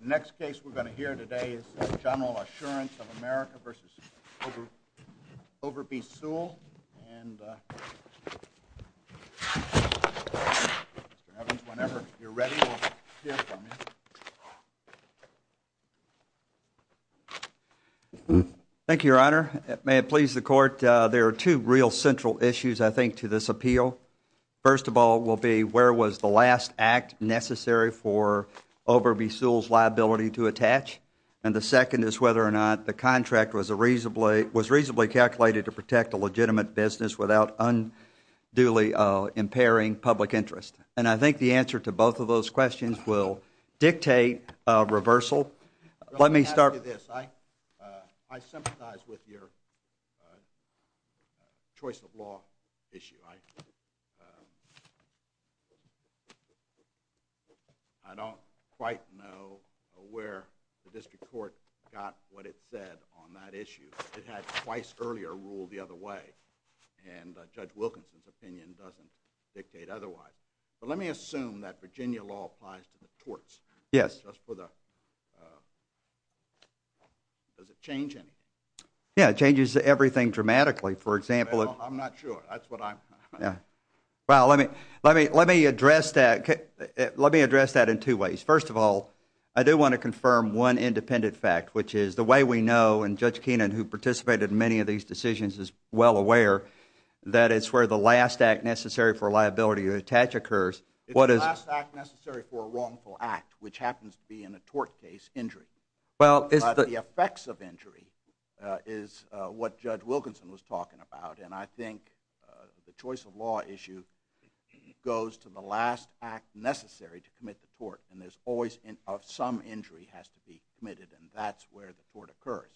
The next case we're going to hear today is General Assurance of America v. Overby-Seawell, and Mr. Evans, whenever you're ready, we'll hear from you. Thank you, Your Honor. May it please the Court, there are two real central issues, I think, to this appeal. First of all will be where was the last act necessary for Overby-Seawell's liability to attach? And the second is whether or not the contract was reasonably calculated to protect a legitimate business without unduly impairing public interest. And I think the answer to both of those questions will dictate a reversal. Let me ask you this. I sympathize with your choice of law issue. I don't quite know where the district court got what it said on that issue. It had twice earlier ruled the other way, and Judge Wilkinson's opinion doesn't dictate otherwise. But let me assume that Virginia law applies to the courts. Yes. Does it change anything? Yeah, it changes everything dramatically. I'm not sure. That's what I'm... Well, let me address that in two ways. First of all, I do want to confirm one independent fact, which is the way we know, and Judge Keenan, who participated in many of these decisions, is well aware, that it's where the last act necessary for liability to attach occurs. It's the last act necessary for a wrongful act, which happens to be in a tort case, injury. The effects of injury is what Judge Wilkinson was talking about. And I think the choice of law issue goes to the last act necessary to commit the tort. And there's always some injury has to be committed, and that's where the tort occurs.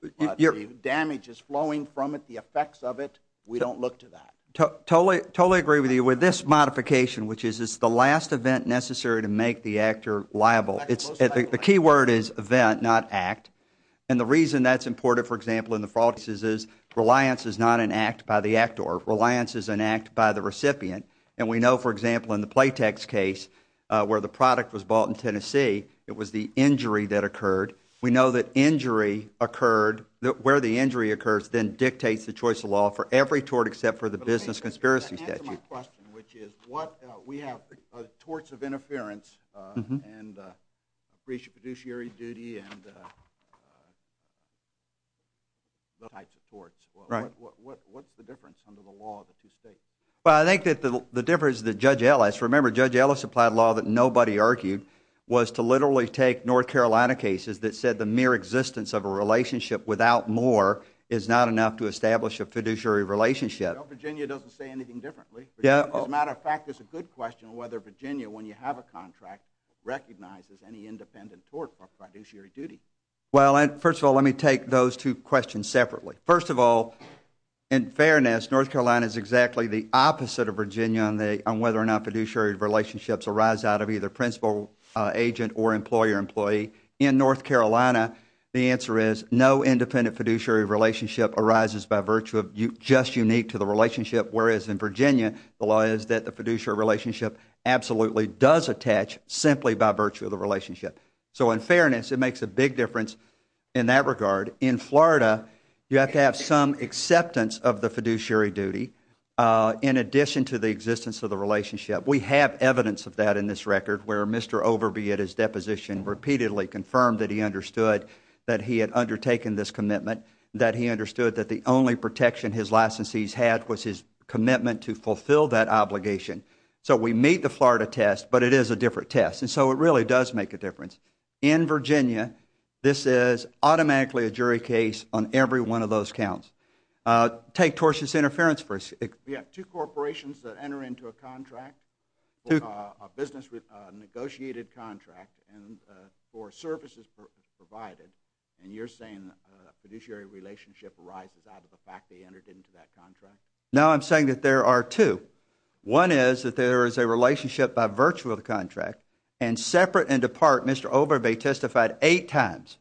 The damage is flowing from it, the effects of it, we don't look to that. Totally agree with you with this modification, which is it's the last event necessary to make the actor liable. The key word is event, not act. And the reason that's important, for example, in the fraud cases is reliance is not an act by the actor. Reliance is an act by the recipient. And we know, for example, in the Playtex case, where the product was bought in Tennessee, it was the injury that occurred. We know that injury occurred, where the injury occurs, then dictates the choice of law for every tort except for the business conspiracy statute. To answer my question, which is, we have torts of interference and appreciative fiduciary duty and those types of torts. What's the difference under the law of the two states? Well, I think that the difference that Judge Ellis, remember Judge Ellis applied law that nobody argued, was to literally take North Carolina cases that said the mere existence of a relationship without more is not enough to establish a fiduciary relationship. Well, Virginia doesn't say anything differently. As a matter of fact, it's a good question whether Virginia, when you have a contract, recognizes any independent tort for fiduciary duty. Well, first of all, let me take those two questions separately. First of all, in fairness, North Carolina is exactly the opposite of Virginia on whether or not fiduciary relationships arise out of either principal, agent, or employer-employee. In North Carolina, the answer is no independent fiduciary relationship arises by virtue of just unique to the relationship, whereas in Virginia, the law is that the fiduciary relationship absolutely does attach simply by virtue of the relationship. So in fairness, it makes a big difference in that regard. In Florida, you have to have some acceptance of the fiduciary duty in addition to the existence of the relationship. We have evidence of that in this record where Mr. Overby, at his deposition, repeatedly confirmed that he understood that he had undertaken this commitment, that he understood that the only protection his licensees had was his commitment to fulfill that obligation. So we meet the Florida test, but it is a different test, and so it really does make a difference. In Virginia, this is automatically a jury case on every one of those counts. Take tortious interference for instance. We have two corporations that enter into a contract, a business negotiated contract for services provided, and you're saying a fiduciary relationship arises out of the fact they entered into that contract? No, I'm saying that there are two. One is that there is a relationship by virtue of the contract, and separate and apart, Mr. Overby testified eight times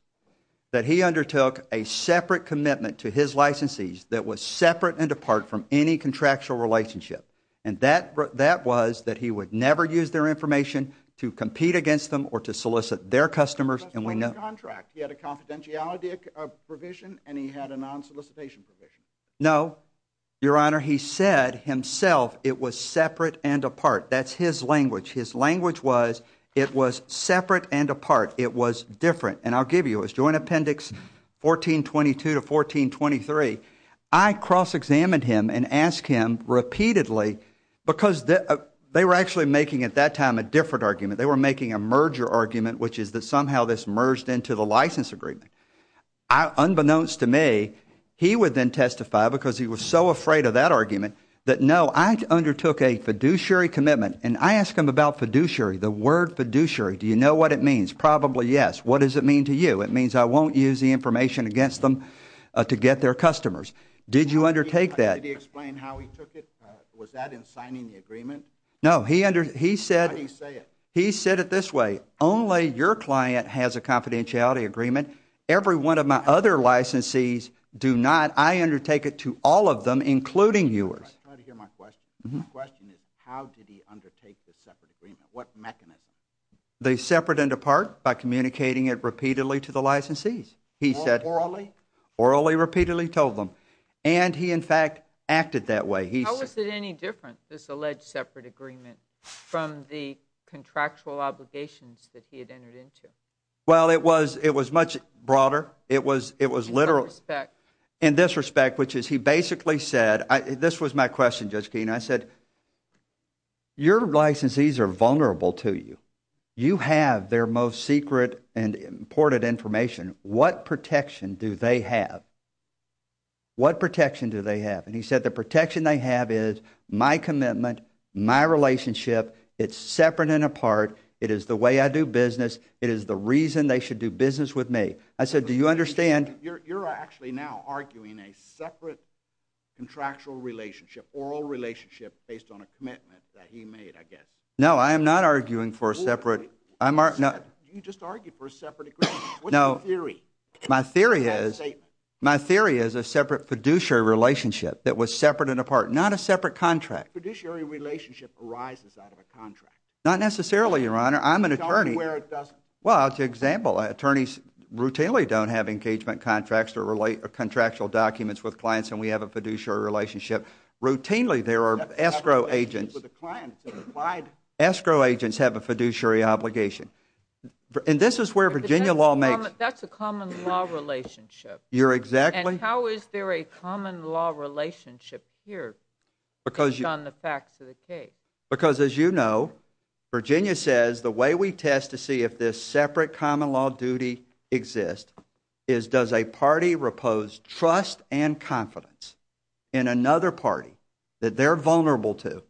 that he undertook a separate commitment to his licensees that was separate and apart from any contractual relationship, and that was that he would never use their information to compete against them or to solicit their customers. He had a confidentiality provision, and he had a non-solicitation provision. No, Your Honor, he said himself it was separate and apart. That's his language. His language was it was separate and apart. It was different, and I'll give you his joint appendix 1422 to 1423. I cross-examined him and asked him repeatedly because they were actually making at that time a different argument. They were making a merger argument, which is that somehow this merged into the license agreement. Unbeknownst to me, he would then testify because he was so afraid of that argument that no, I undertook a fiduciary commitment, and I asked him about fiduciary, the word fiduciary. Do you know what it means? Probably yes. What does it mean to you? It means I won't use the information against them to get their customers. Did you undertake that? Did he explain how he took it? Was that in signing the agreement? No, he said it this way. Only your client has a confidentiality agreement. Every one of my other licensees do not. I undertake it to all of them, including yours. I'm trying to hear my question. My question is how did he undertake the separate agreement? What mechanism? They separate and depart by communicating it repeatedly to the licensees, he said. Orally? Orally, repeatedly told them, and he in fact acted that way. How was it any different, this alleged separate agreement, from the contractual obligations that he had entered into? Well, it was much broader. In what respect? In this respect, which is he basically said, this was my question, Judge Keene, I said, your licensees are vulnerable to you. You have their most secret and important information. What protection do they have? What protection do they have? And he said the protection they have is my commitment, my relationship. It's separate and apart. It is the way I do business. It is the reason they should do business with me. I said, do you understand? You're actually now arguing a separate contractual relationship, an oral relationship, based on a commitment that he made, I guess. No, I am not arguing for a separate. You just argued for a separate agreement. What's your theory? My theory is a separate fiduciary relationship that was separate and apart, not a separate contract. A fiduciary relationship arises out of a contract. Not necessarily, Your Honor. I'm an attorney. Tell me where it doesn't. Well, to example, attorneys routinely don't have engagement contracts or contractual documents with clients, and we have a fiduciary relationship where routinely there are escrow agents. Escrow agents have a fiduciary obligation. And this is where Virginia law makes. That's a common law relationship. You're exactly. And how is there a common law relationship here based on the facts of the case? Because, as you know, Virginia says the way we test to see if this separate common law duty exists is does a party repose trust and confidence in another party that they're vulnerable to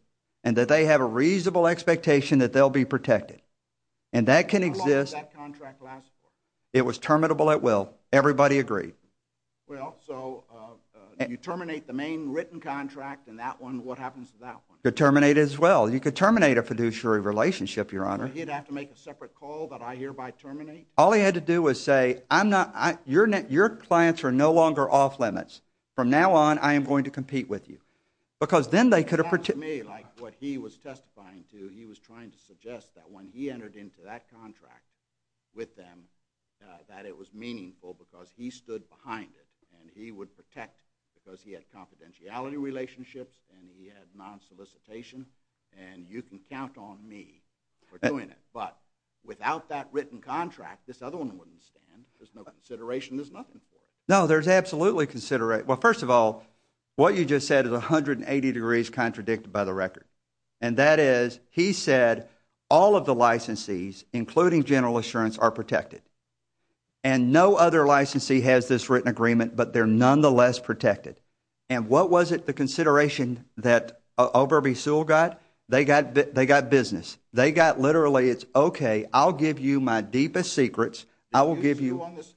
and that they have a reasonable expectation that they'll be protected. And that can exist. How long did that contract last for? It was terminable at will. Everybody agreed. Well, so you terminate the main written contract, and that one, what happens to that one? You terminate it as well. You could terminate a fiduciary relationship, Your Honor. So he'd have to make a separate call that I hereby terminate? All he had to do was say, I'm not, your clients are no longer off limits. From now on, I am going to compete with you. Because then they could have. It sounds to me like what he was testifying to, he was trying to suggest that when he entered into that contract with them, that it was meaningful because he stood behind it, and he would protect because he had confidentiality relationships and he had non-solicitation, and you can count on me for doing it. But without that written contract, this other one wouldn't stand. There's no consideration. There's nothing for it. No, there's absolutely consideration. Well, first of all, what you just said is 180 degrees contradicted by the record, and that is he said all of the licensees, including General Assurance, are protected, and no other licensee has this written agreement, but they're nonetheless protected. And what was it, the consideration that Oberby Sewell got? They got business. They got literally, it's okay, I'll give you my deepest secrets. Did you sue on this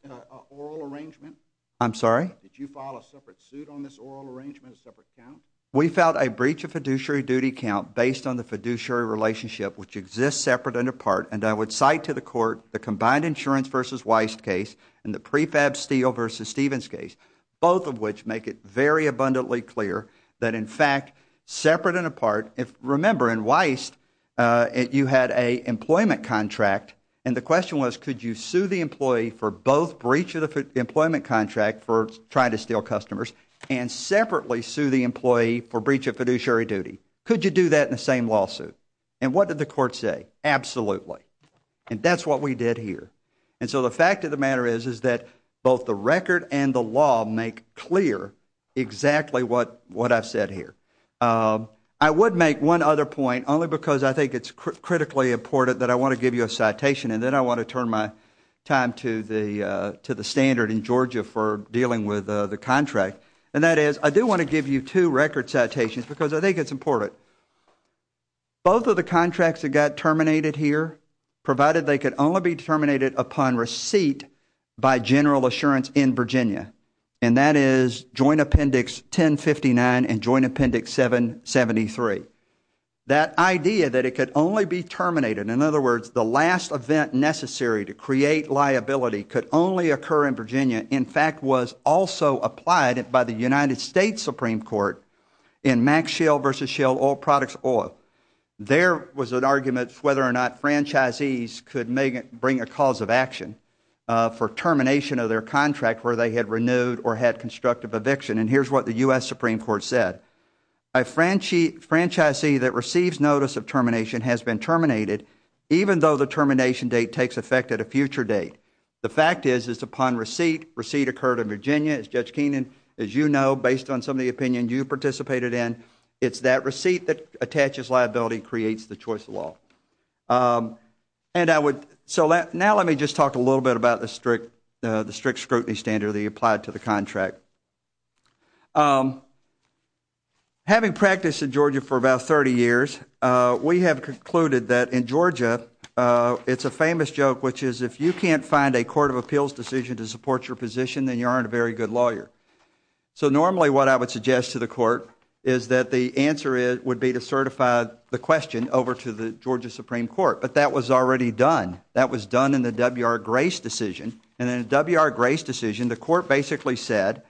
oral arrangement? I'm sorry? Did you file a separate suit on this oral arrangement, a separate count? We filed a breach of fiduciary duty count based on the fiduciary relationship, which exists separate and apart, and I would cite to the court the combined insurance versus Weist case and the prefab Steele versus Stevens case, both of which make it very abundantly clear that, in fact, separate and apart. Remember, in Weist, you had an employment contract, and the question was could you sue the employee for both breach of the employment contract for trying to steal customers and separately sue the employee for breach of fiduciary duty? Could you do that in the same lawsuit? And what did the court say? Absolutely. And that's what we did here. And so the fact of the matter is, is that both the record and the law make clear exactly what I've said here. I would make one other point, only because I think it's critically important that I want to give you a citation and then I want to turn my time to the standard in Georgia for dealing with the contract, and that is I do want to give you two record citations because I think it's important. Both of the contracts that got terminated here, provided they could only be terminated upon receipt by General Assurance in Virginia, and that is Joint Appendix 1059 and Joint Appendix 773. That idea that it could only be terminated, in other words, the last event necessary to create liability could only occur in Virginia, in fact, was also applied by the United States Supreme Court in Max Schell versus Schell Oil Products Oil. There was an argument whether or not franchisees could bring a cause of action for termination of their contract where they had renewed or had constructive eviction. And here's what the U.S. Supreme Court said. A franchisee that receives notice of termination has been terminated even though the termination date takes effect at a future date. The fact is it's upon receipt. Receipt occurred in Virginia. As Judge Keenan, as you know based on some of the opinion you participated in, it's that receipt that attaches liability creates the choice of law. And I would, so now let me just talk a little bit about the strict scrutiny standard that you applied to the contract. Having practiced in Georgia for about 30 years, we have concluded that in Georgia it's a famous joke, which is if you can't find a court of appeals decision to support your position, then you aren't a very good lawyer. So normally what I would suggest to the court is that the answer is, would be to certify the question over to the Georgia Supreme Court. But that was already done. That was done in the W.R. Grace decision. And then W.R. Grace decision, the court basically said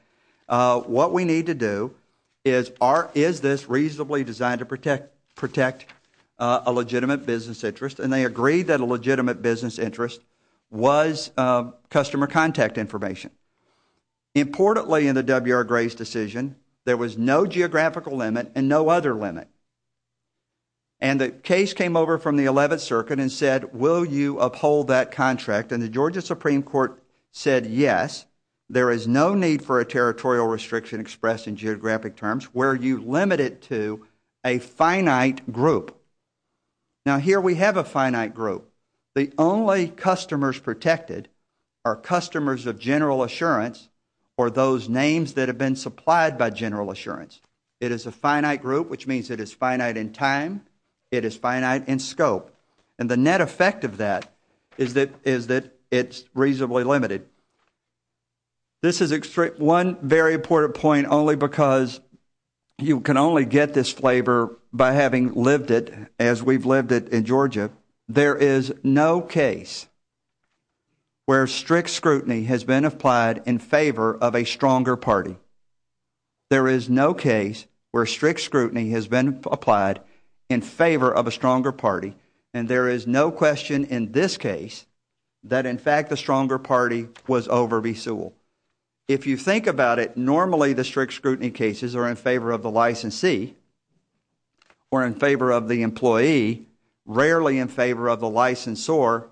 what we need to do is, is this reasonably designed to protect a legitimate business interest? And they agreed that a legitimate business interest was customer contact information. Importantly in the W.R. Grace decision, there was no geographical limit and no other limit. And the case came over from the 11th circuit and said, will you uphold that contract? And the Georgia Supreme Court said, yes, there is no need for a territorial restriction expressed in geographic terms where you limit it to a finite group. Now here we have a finite group. The only customers protected are customers of General Assurance or those names that have been supplied by General Assurance. It is a finite group, which means it is finite in time. It is finite in scope. And the net effect of that is that it is reasonably limited. This is one very important point only because you can only get this flavor by having lived it as we have lived it in Georgia. There is no case where strict scrutiny has been applied in favor of a stronger party. There is no case where strict scrutiny has been applied in favor of a stronger party. And there is no question in this case that, in fact, the stronger party was over V. Sewell. If you think about it, normally the strict scrutiny cases are in favor of the licensee or in favor of the employee, rarely in favor of the licensor.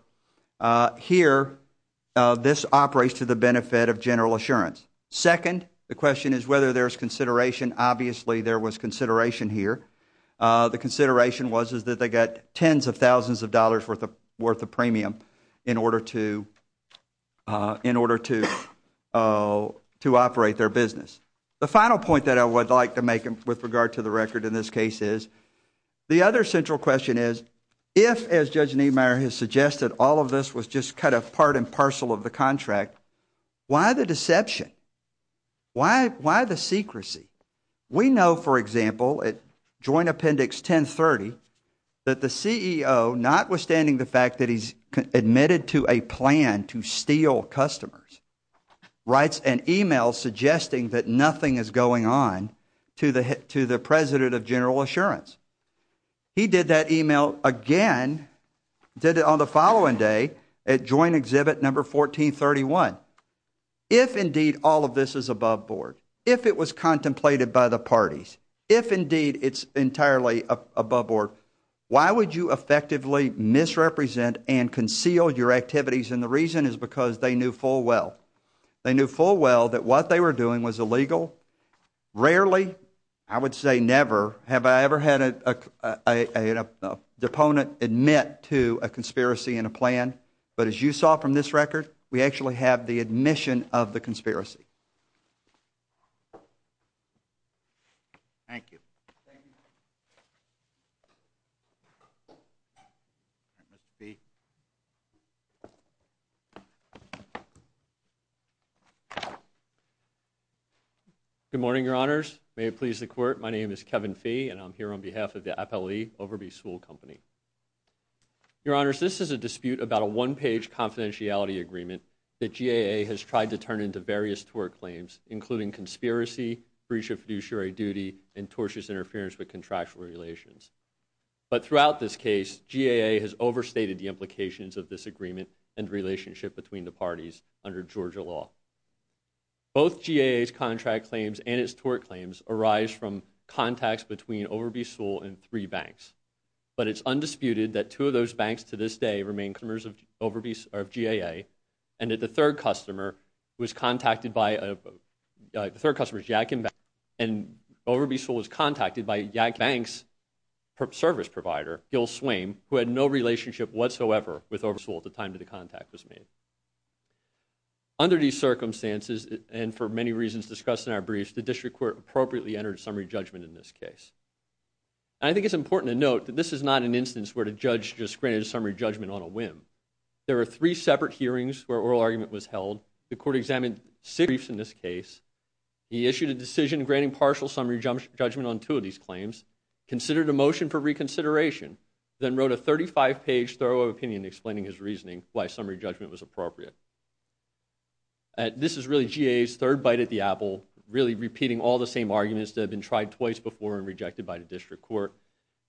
Here, this operates to the benefit of General Assurance. Second, the question is whether there's consideration. Obviously there was consideration here. The consideration was that they got tens of thousands of dollars worth of premium in order to operate their business. The final point that I would like to make with regard to the record in this case is the other central question is if, as Judge Niemeyer has suggested, all of this was just cut apart and parcel of the contract, why the deception? Why the secrecy? We know, for example, at Joint Appendix 1030, that the CEO, notwithstanding the fact that he's admitted to a plan to steal customers, writes an email suggesting that nothing is going on to the President of General Assurance. He did that email again, did it on the following day, at Joint Exhibit Number 1431. If, indeed, all of this is above board, if it was contemplated by the parties, if, indeed, it's entirely above board, why would you effectively misrepresent and conceal your activities? And the reason is because they knew full well. They knew full well that what they were doing was illegal. Rarely, I would say never, have I ever had an opponent admit to a conspiracy in a plan. But as you saw from this record, we actually have the admission of the conspiracy. Thank you. Good morning, Your Honors. May it please the Court, my name is Kevin Fee, and I'm here on behalf of the Appellee Overby Sewell Company. Your Honors, this is a dispute about a one-page confidentiality agreement that GAA has tried to turn into various tort claims, including conspiracy, breach of fiduciary duty, and tortious interference with contractual relations. But throughout this case, GAA has overstated the implications of this agreement and relationship between the parties under Georgia law. Both GAA's contract claims and its tort claims arise from contacts between Overby Sewell and three banks. But it's undisputed that two of those banks to this day remain customers of GAA, and that the third customer was contacted by, the third customer is Yadkin Bank, and Overby Sewell was contacted by Yadkin Bank's service provider, Gil Swain, who had no relationship whatsoever with Overby Sewell at the time that the contact was made. Under these circumstances, and for many reasons discussed in our briefs, the District Court appropriately entered summary judgment in this case. I think it's important to note that this is not an instance where the judge just granted a summary judgment on a whim. There were three separate hearings where oral argument was held. The court examined six briefs in this case. He issued a decision granting partial summary judgment on two of these claims, considered a motion for reconsideration, then wrote a 35-page thorough opinion explaining his reasoning why summary judgment was appropriate. This is really GAA's third bite at the apple, really repeating all the same arguments that have been tried twice before and rejected by the District Court,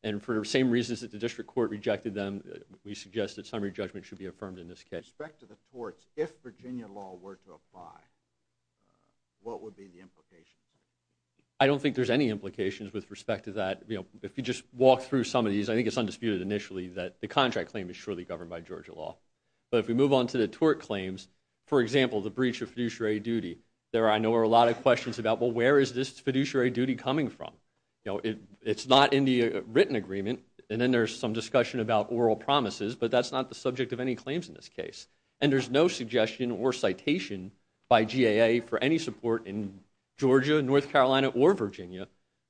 and for the same reasons that the District Court rejected them, we suggest that summary judgment should be affirmed in this case. With respect to the torts, if Virginia law were to apply, what would be the implications? I don't think there's any implications with respect to that. If you just walk through some of these, I think it's undisputed initially that the contract claim is surely governed by Georgia law. But if we move on to the tort claims, for example, the breach of fiduciary duty, there I know are a lot of questions about, well, where is this fiduciary duty coming from? It's not in the written agreement, and then there's some discussion about oral promises, but that's not the subject of any claims in this case. And there's no suggestion or citation by GAA for any support in Georgia, North Carolina, or Virginia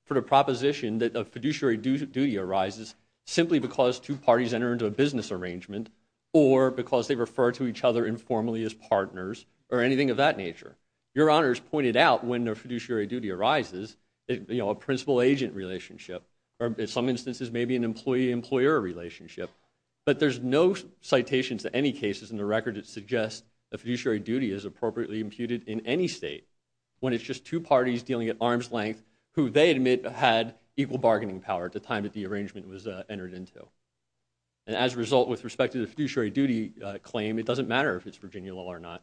for the proposition that a fiduciary duty arises simply because two parties enter into a business arrangement or because they refer to each other informally as partners or anything of that nature. Your honors pointed out when a fiduciary duty arises, a principal-agent relationship, or in some instances maybe an employee-employer relationship, but there's no citations to any cases in the record that suggest a fiduciary duty is appropriately imputed in any state when it's just two parties dealing at arm's length who they admit had equal bargaining power at the time that the arrangement was entered into. And as a result, with respect to the fiduciary duty claim, it doesn't matter if it's Virginia law or not.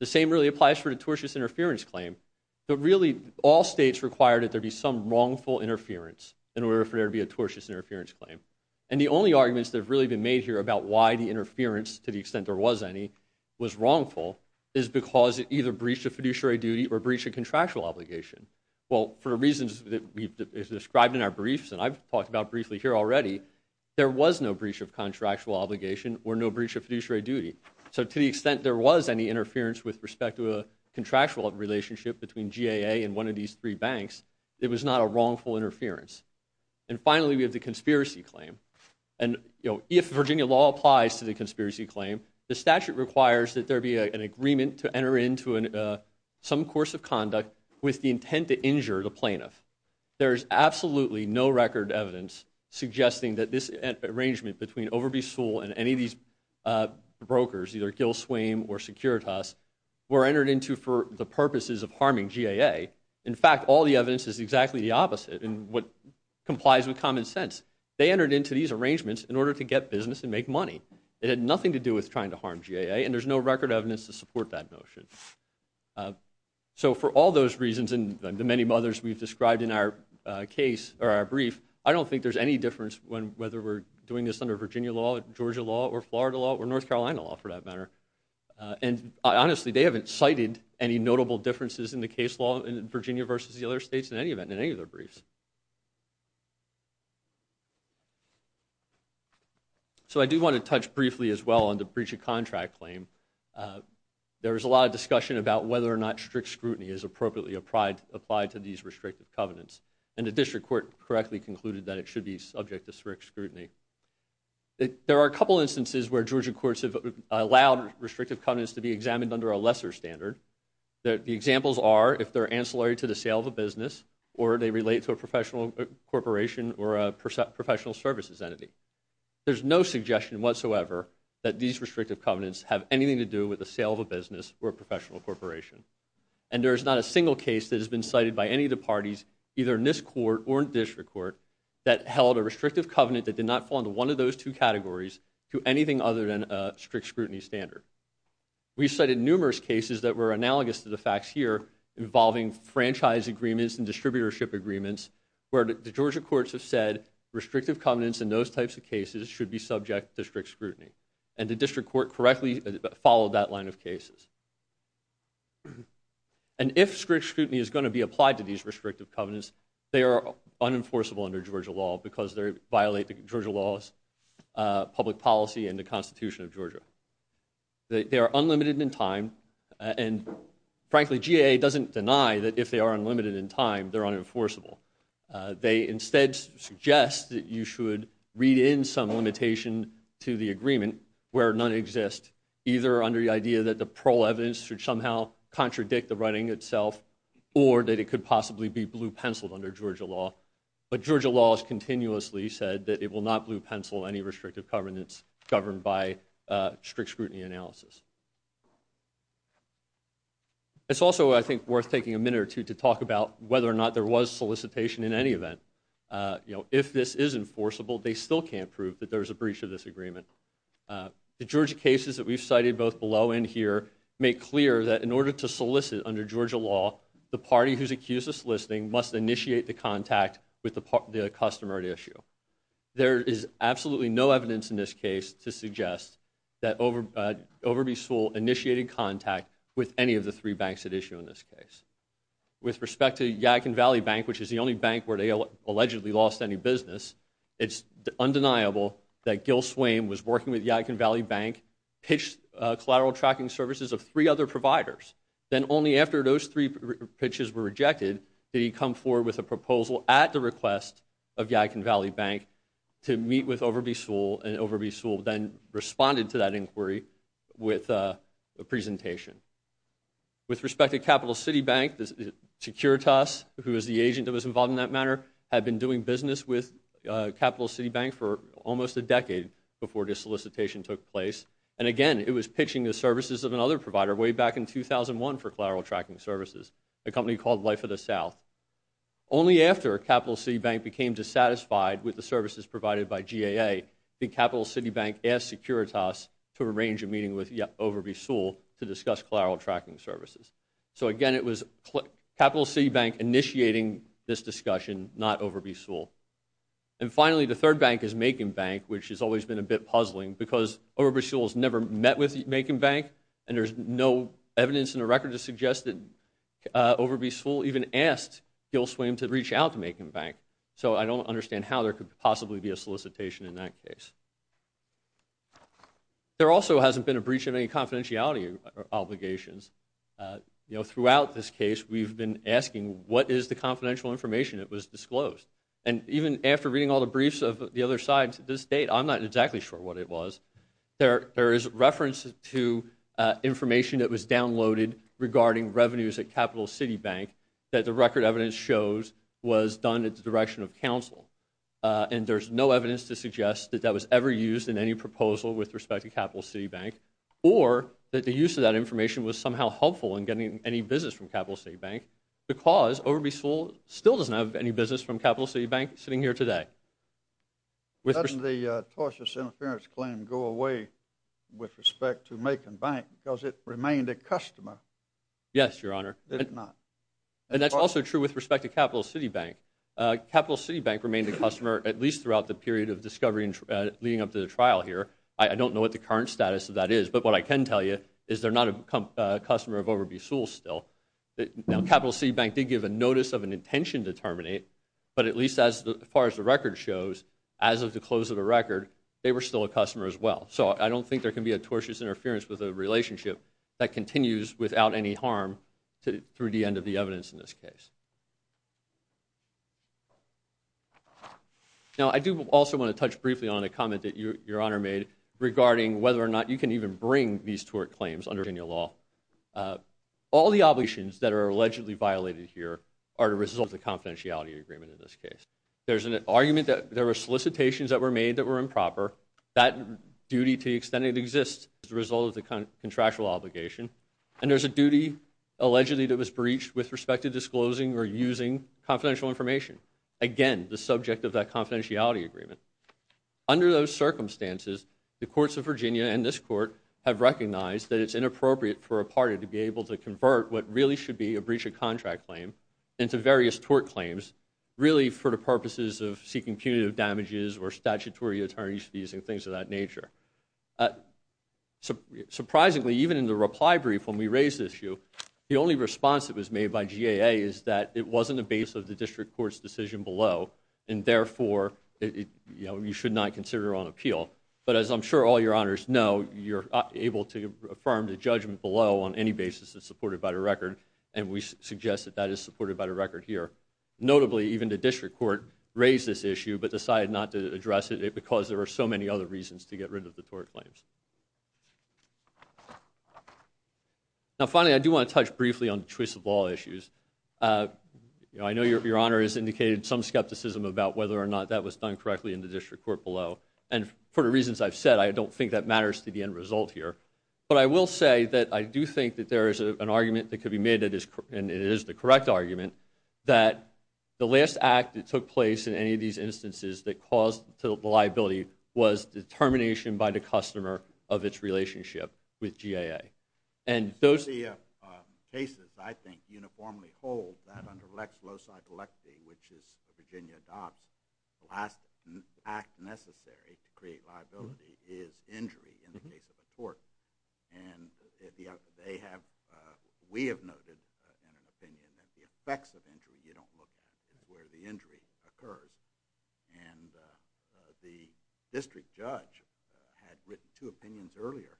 The same really applies for the tortious interference claim. Really, all states require that there be some wrongful interference in order for there to be a tortious interference claim. And the only arguments that have really been made here about why the interference, to the extent there was any, was wrongful is because it either breached a fiduciary duty or breached a contractual obligation. Well, for reasons that we've described in our briefs and I've talked about briefly here already, there was no breach of contractual obligation or no breach of fiduciary duty. So to the extent there was any interference with respect to a contractual relationship between GAA and one of these three banks, it was not a wrongful interference. And finally, we have the conspiracy claim. And, you know, if Virginia law applies to the conspiracy claim, the statute requires that there be an agreement to enter into some course of conduct with the intent to injure the plaintiff. There is absolutely no record evidence suggesting that this arrangement between Overby Sewell and any of these brokers, either Gil Swaim or Securitas, were entered into for the purposes of harming GAA. In fact, all the evidence is exactly the opposite in what complies with common sense. They entered into these arrangements in order to get business and make money. It had nothing to do with trying to harm GAA, and there's no record evidence to support that notion. So for all those reasons and the many others we've described in our brief, I don't think there's any difference whether we're doing this under Virginia law, Georgia law, or Florida law, or North Carolina law, for that matter. And honestly, they haven't cited any notable differences in the case law in Virginia versus the other states in any event, in any of their briefs. So I do want to touch briefly as well on the breach of contract claim. There was a lot of discussion about whether or not strict scrutiny is appropriately applied to these restrictive covenants. And the district court correctly concluded that it should be subject to strict scrutiny. There are a couple instances where Georgia courts have allowed restrictive covenants to be examined under a lesser standard. The examples are if they're ancillary to the sale of a business, or they relate to a professional corporation or a professional services entity. There's no suggestion whatsoever that these restrictive covenants have anything to do with the sale of a business or a professional corporation. And there is not a single case that has been cited by any of the parties, either in this court or in the district court, that held a restrictive covenant that did not fall into one of those two categories to anything other than a strict scrutiny standard. We cited numerous cases that were analogous to the facts here involving franchise agreements and distributorship agreements where the Georgia courts have said restrictive covenants in those types of cases should be subject to strict scrutiny. And the district court correctly followed that line of cases. And if strict scrutiny is going to be applied to these restrictive covenants, they are unenforceable under Georgia law because they violate the Georgia laws, public policy, and the Constitution of Georgia. They are unlimited in time, and frankly, GAA doesn't deny that if they are unlimited in time, they're unenforceable. They instead suggest that you should read in some limitation to the agreement where none exists, either under the idea that the parole evidence should somehow contradict the writing itself or that it could possibly be blue-penciled under Georgia law. But Georgia law has continuously said that it will not blue-pencil any restrictive covenants governed by strict scrutiny analysis. It's also, I think, worth taking a minute or two to talk about whether or not there was solicitation in any event. You know, if this is enforceable, they still can't prove that there's a breach of this agreement. The Georgia cases that we've cited both below and here make clear that in order to solicit under Georgia law the party who's accused of soliciting must initiate the contact with the customer at issue. There is absolutely no evidence in this case to suggest that Overby Sewell initiated contact with any of the three banks at issue in this case. With respect to Yadkin Valley Bank, which is the only bank where they allegedly lost any business, it's undeniable that Gil Swain was working with Yadkin Valley Bank, pitched collateral tracking services of three other providers. Then only after those three pitches were rejected did he come forward with a proposal at the request of Yadkin Valley Bank to meet with Overby Sewell, and Overby Sewell then responded to that inquiry with a presentation. With respect to Capital City Bank, Securitas, who is the agent that was involved in that matter, had been doing business with Capital City Bank for almost a decade before this solicitation took place. And again, it was pitching the services of another provider way back in 2001 for collateral tracking services, a company called Life of the South. Only after Capital City Bank became dissatisfied with the services provided by GAA, did Capital City Bank ask Securitas to arrange a meeting with Overby Sewell to discuss collateral tracking services. So again, it was Capital City Bank initiating this discussion, not Overby Sewell. And finally, the third bank is Macon Bank, which has always been a bit puzzling because Overby Sewell has never met with Macon Bank, and there's no evidence in the record to suggest that Overby Sewell even asked Gil Swain to reach out to Macon Bank. So I don't understand how there could possibly be a solicitation in that case. There also hasn't been a breach of any confidentiality obligations. Throughout this case, we've been asking, what is the confidential information that was disclosed? And even after reading all the briefs of the other side to this date, I'm not exactly sure what it was. There is reference to information that was downloaded regarding revenues at Capital City Bank that the record evidence shows was done at the direction of counsel. And there's no evidence to suggest that that was ever used in any proposal with respect to Capital City Bank, or that the use of that information was somehow helpful in getting any business from Capital City Bank, because Overby Sewell still doesn't have any business from Capital City Bank sitting here today. Doesn't the tortious interference claim go away with respect to Macon Bank, because it remained a customer? Yes, Your Honor. And that's also true with respect to Capital City Bank. Capital City Bank remained a customer at least throughout the period of discovery leading up to the trial here. I don't know what the current status of that is, but what I can tell you is they're not a customer of Overby Sewell still. Now, Capital City Bank did give a notice of an intention to terminate, but at least as far as the record shows, as of the close of the record, they were still a customer as well. So I don't think there can be a tortious interference with a relationship that continues without any harm through the end of the evidence in this case. Now, I do also want to touch briefly on a comment that Your Honor made regarding whether or not you can even bring these tort claims under any law. All the obligations that are allegedly violated here are the result of the confidentiality agreement in this case. There's an argument that there were solicitations that were made that were improper. That duty to the extent it exists is the result of the contractual obligation. And there's a duty allegedly that was breached with respect to disclosing or using confidential information. Again, the subject of that confidentiality agreement. Under those circumstances, the courts of Virginia and this court have recognized that it's inappropriate for a party to be able to convert what really should be a breach of contract claim into various tort claims really for the purposes of seeking punitive damages or statutory attorney's fees and things of that nature. Surprisingly, even in the reply brief when we raised this issue, the only response that was made by GAA is that it wasn't a base of the district court's decision below and therefore you should not consider it on appeal. But as I'm sure all Your Honors know, you're able to affirm the judgment below on any basis that's supported by the record, and we suggest that that is supported by the record here. Notably, even the district court raised this issue but decided not to address it because there were so many other reasons to get rid of the tort claims. Now, finally, I do want to touch briefly on the choice of law issues. I know Your Honor has indicated some skepticism about whether or not that was done correctly in the district court below, and for the reasons I've said, I don't think that matters to the end result here. But I will say that I do think that there is an argument that could be made, and it is the correct argument, that the last act that took place in any of these instances that caused the liability was determination by the customer of its relationship with GAA. And those... The cases, I think, uniformly hold that under Lex Loci Delecti, which Virginia adopts, the last act necessary to create liability is injury in the case of a tort. And they have... We have noted in an opinion that the effects of injury you don't look at is where the injury occurred. And the district judge had written two opinions earlier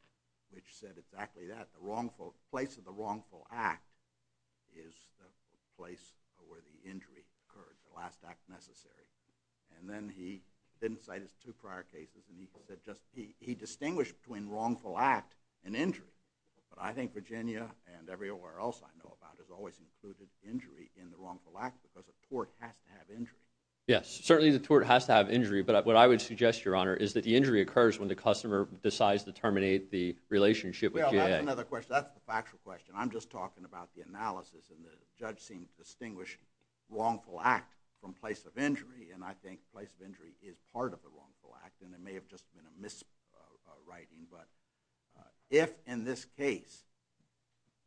which said exactly that. The place of the wrongful act is the place where the injury occurred, the last act necessary. And then he didn't cite his two prior cases that just... He distinguished between wrongful act and injury. But I think Virginia and everywhere else I know about has always included injury in the wrongful act because a tort has to have injury. Yes, certainly the tort has to have injury, but what I would suggest, Your Honor, is that the injury occurs when the customer decides to terminate the relationship with GAA. Well, that's another question. That's the factual question. I'm just talking about the analysis, and the judge seemed to distinguish wrongful act from place of injury, and I think place of injury is part of the wrongful act, and it may have just been a miswriting. But if, in this case,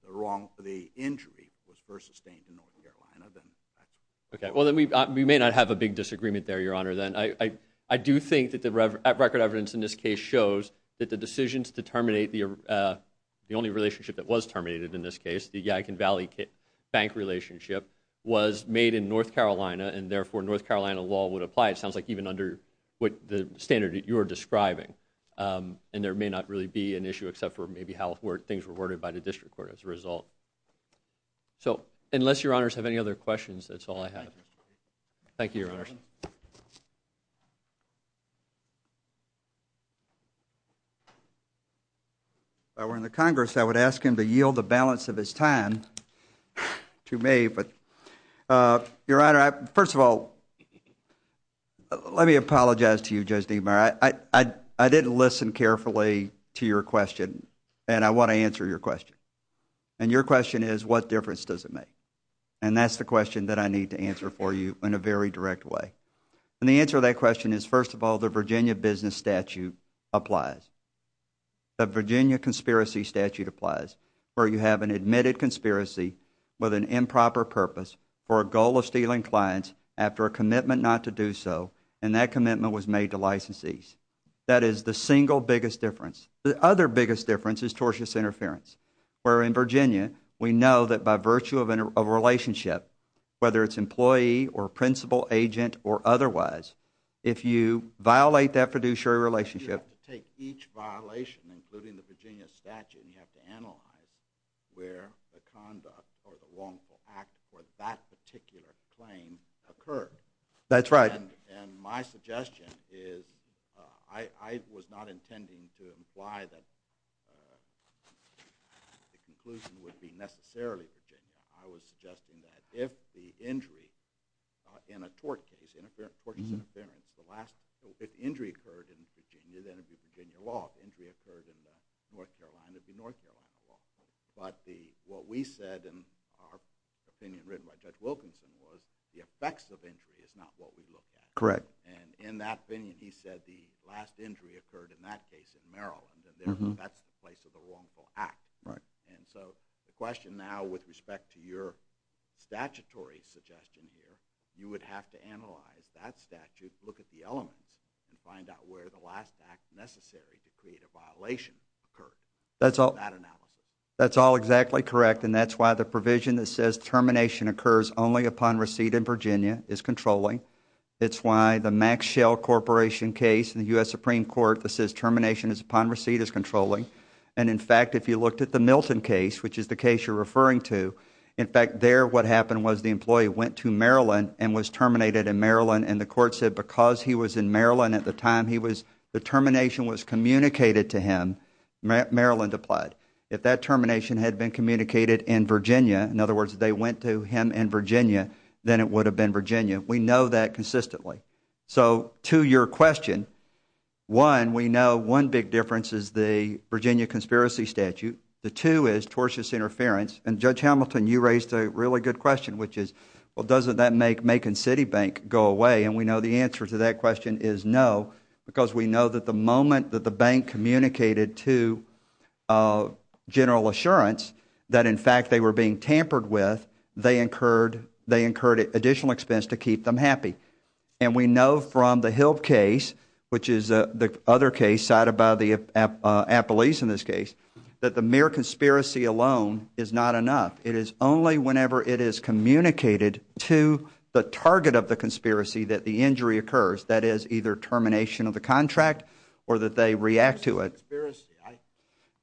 the wrongful injury was first sustained in North Carolina, then... Okay, well, then we may not have a big disagreement there, Your Honor. I do think that the record evidence in this case shows that the decisions to terminate the only relationship that was terminated in this case, the Yikon Valley bank relationship, was made in North Carolina, and therefore North Carolina law would apply. It sounds like even under the standard that you're describing, and there may not really be an issue except for maybe how things were worded by the district court as a result. So, unless Your Honors have any other questions, that's all I have. Thank you, Your Honors. If I were in the Congress, I would ask him to yield the balance of his time to me, but, Your Honor, first of all, let me apologize to you, Judge Deamer. I didn't listen carefully to your question, and I want to answer your question. And your question is, what difference does it make? And that's the question that I need to answer for you in a very direct way. And the answer to that question is, first of all, the Virginia business statute applies. The Virginia conspiracy statute applies, where you have an admitted conspiracy with an improper purpose for a goal of stealing clients after a commitment not to do so, and that commitment was made to licensees. That is the single biggest difference. The other biggest difference is tortious interference, where in Virginia, we know that by virtue of a relationship, whether it's employee or principal, agent, or otherwise, if you violate that fiduciary relationship... You have to take each violation, including the Virginia statute, and you have to analyze where the conduct or the wrongful act for that particular claim occurred. That's right. And my suggestion is, I was not intending to imply that the conclusion would be necessarily Virginia. I was suggesting that if the injury in a tort case, tortious interference, if injury occurred in Virginia, then it would be Virginia law. If injury occurred in North Carolina, it would be North Carolina law. But what we said in our opinion written by Judge Wilkinson was the effects of injury is not what we looked at. Correct. And in that opinion, he said the last injury occurred in that case in Maryland, and that's the place of the wrongful act. Right. And so the question now with respect to your statutory suggestion here, you would have to analyze that statute, look at the elements, and find out where the last act necessary to create a violation occurred. That's all exactly correct, and that's why the provision that says termination occurs only upon receipt in Virginia is controlling. It's why the Max Schell Corporation case in the U.S. Supreme Court that says termination is upon receipt is controlling. And, in fact, if you looked at the Milton case, which is the case you're referring to, in fact, there what happened was the employee went to Maryland and was terminated in Maryland, and the court said because he was in Maryland at the time, the termination was communicated to him. Maryland applied. If that termination had been communicated in Virginia, in other words, they went to him in Virginia, then it would have been Virginia. We know that consistently. So to your question, one, we know one big difference is the Virginia conspiracy statute. The two is tortious interference. And, Judge Hamilton, you raised a really good question, which is, well, doesn't that make Macon City Bank go away? And we know the answer to that question is no, because we know that the moment that the bank communicated to General Assurance that, in fact, they were being tampered with, they incurred additional expense to keep them happy. And we know from the Hill case, which is the other case cited by the appellees in this case, that the mere conspiracy alone is not enough. It is only whenever it is communicated to the target of the conspiracy that the injury occurs, that is, either termination of the contract or that they react to it.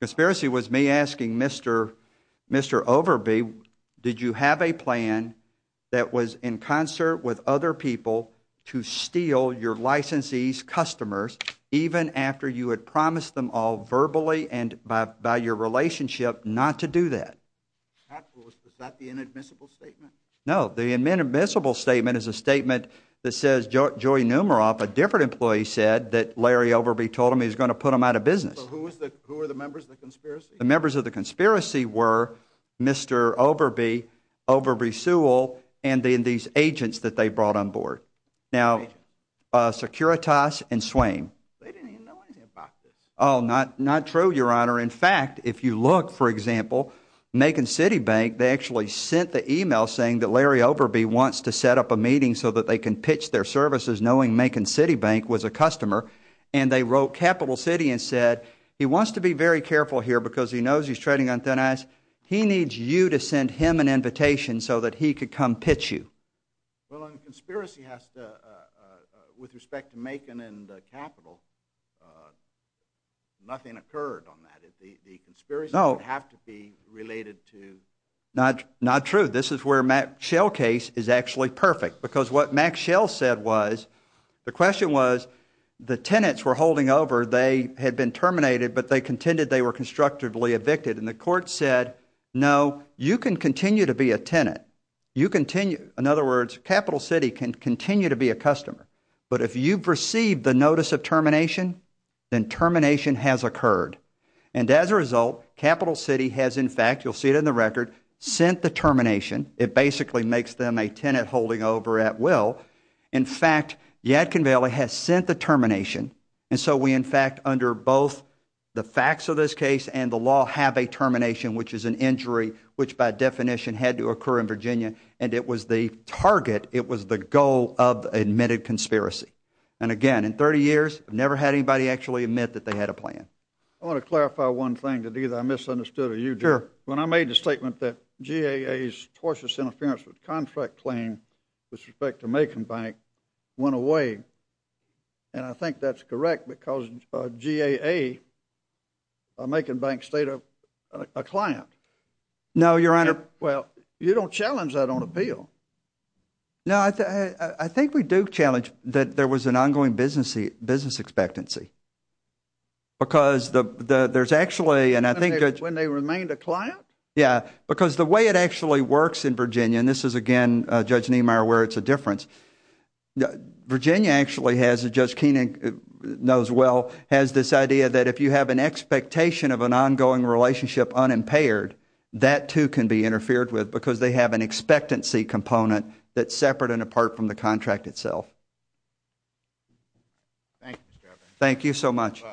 Conspiracy was me asking Mr. Overby, did you have a plan that was in concert with other people to steal your licensees' customers even after you had promised them all verbally and by your relationship not to do that? That was not the inadmissible statement. No, the inadmissible statement is a statement that says, a different employee said that Larry Overby told him he was going to put them out of business. Who were the members of the conspiracy? The members of the conspiracy were Mr. Overby, Overby Sewell, and then these agents that they brought on board. Now, Securitas and Swain. They didn't even know anything about this. Oh, not true, Your Honor. In fact, if you look, for example, Macon City Bank, they actually sent the email saying that Larry Overby wants to set up a meeting so that they can pitch their services, knowing Macon City Bank was a customer, and they wrote Capital City and said, he wants to be very careful here because he knows he's trading on thin ice. He needs you to send him an invitation so that he could come pitch you. Well, and the conspiracy has to, with respect to Macon and Capital, nothing occurred on that. The conspiracy would have to be related to... Not true. This is where Mac Schell's case is actually perfect because what Mac Schell said was, the question was, the tenants were holding over. They had been terminated, but they contended they were constructively evicted, and the court said, no, you can continue to be a tenant. You continue... In other words, Capital City can continue to be a customer, but if you've received the notice of termination, then termination has occurred, and as a result, Capital City has, in fact, you'll see it in the record, sent the termination. It basically makes them a tenant holding over at will. In fact, Yadkin Valley has sent the termination, and so we, in fact, under both the facts of this case and the law, have a termination, which is an injury which, by definition, had to occur in Virginia, and it was the target, it was the goal of the admitted conspiracy. And again, in 30 years, I've never had anybody actually admit that they had a plan. I want to clarify one thing, that either I misunderstood or you did. Sure. When I made the statement that GAA's tortious interference with contract claim with respect to Macon Bank went away, and I think that's correct because GAA, Macon Bank, stayed a client. No, Your Honor. Well, you don't challenge that on a bill. No, I think we do challenge that there was an ongoing business expectancy because there's actually, and I think... When they remained a client? Yeah, because the way it actually works in Virginia, and this is, again, Judge Niemeyer, where it's a difference, Virginia actually has, as Judge Koenig knows well, has this idea that if you have an expectation of an ongoing relationship unimpaired, that, too, can be interfered with because they have an expectancy component that's separate and apart from the contract itself. Thank you, Mr. Evans. Thank you so much.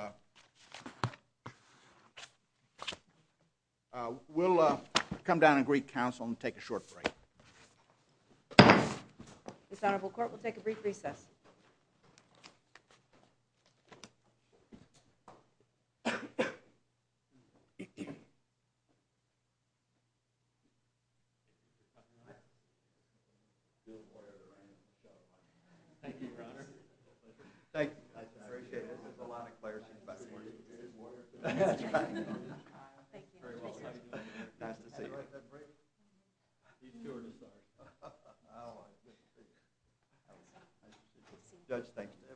We'll come down and greet counsel and take a short break. This Honorable Court will take a brief recess. Thank you, Your Honor. Thank you. I appreciate it. There's a lot of clerks investigating. That's right. Nice to see you. Judge, thank you. Thank you.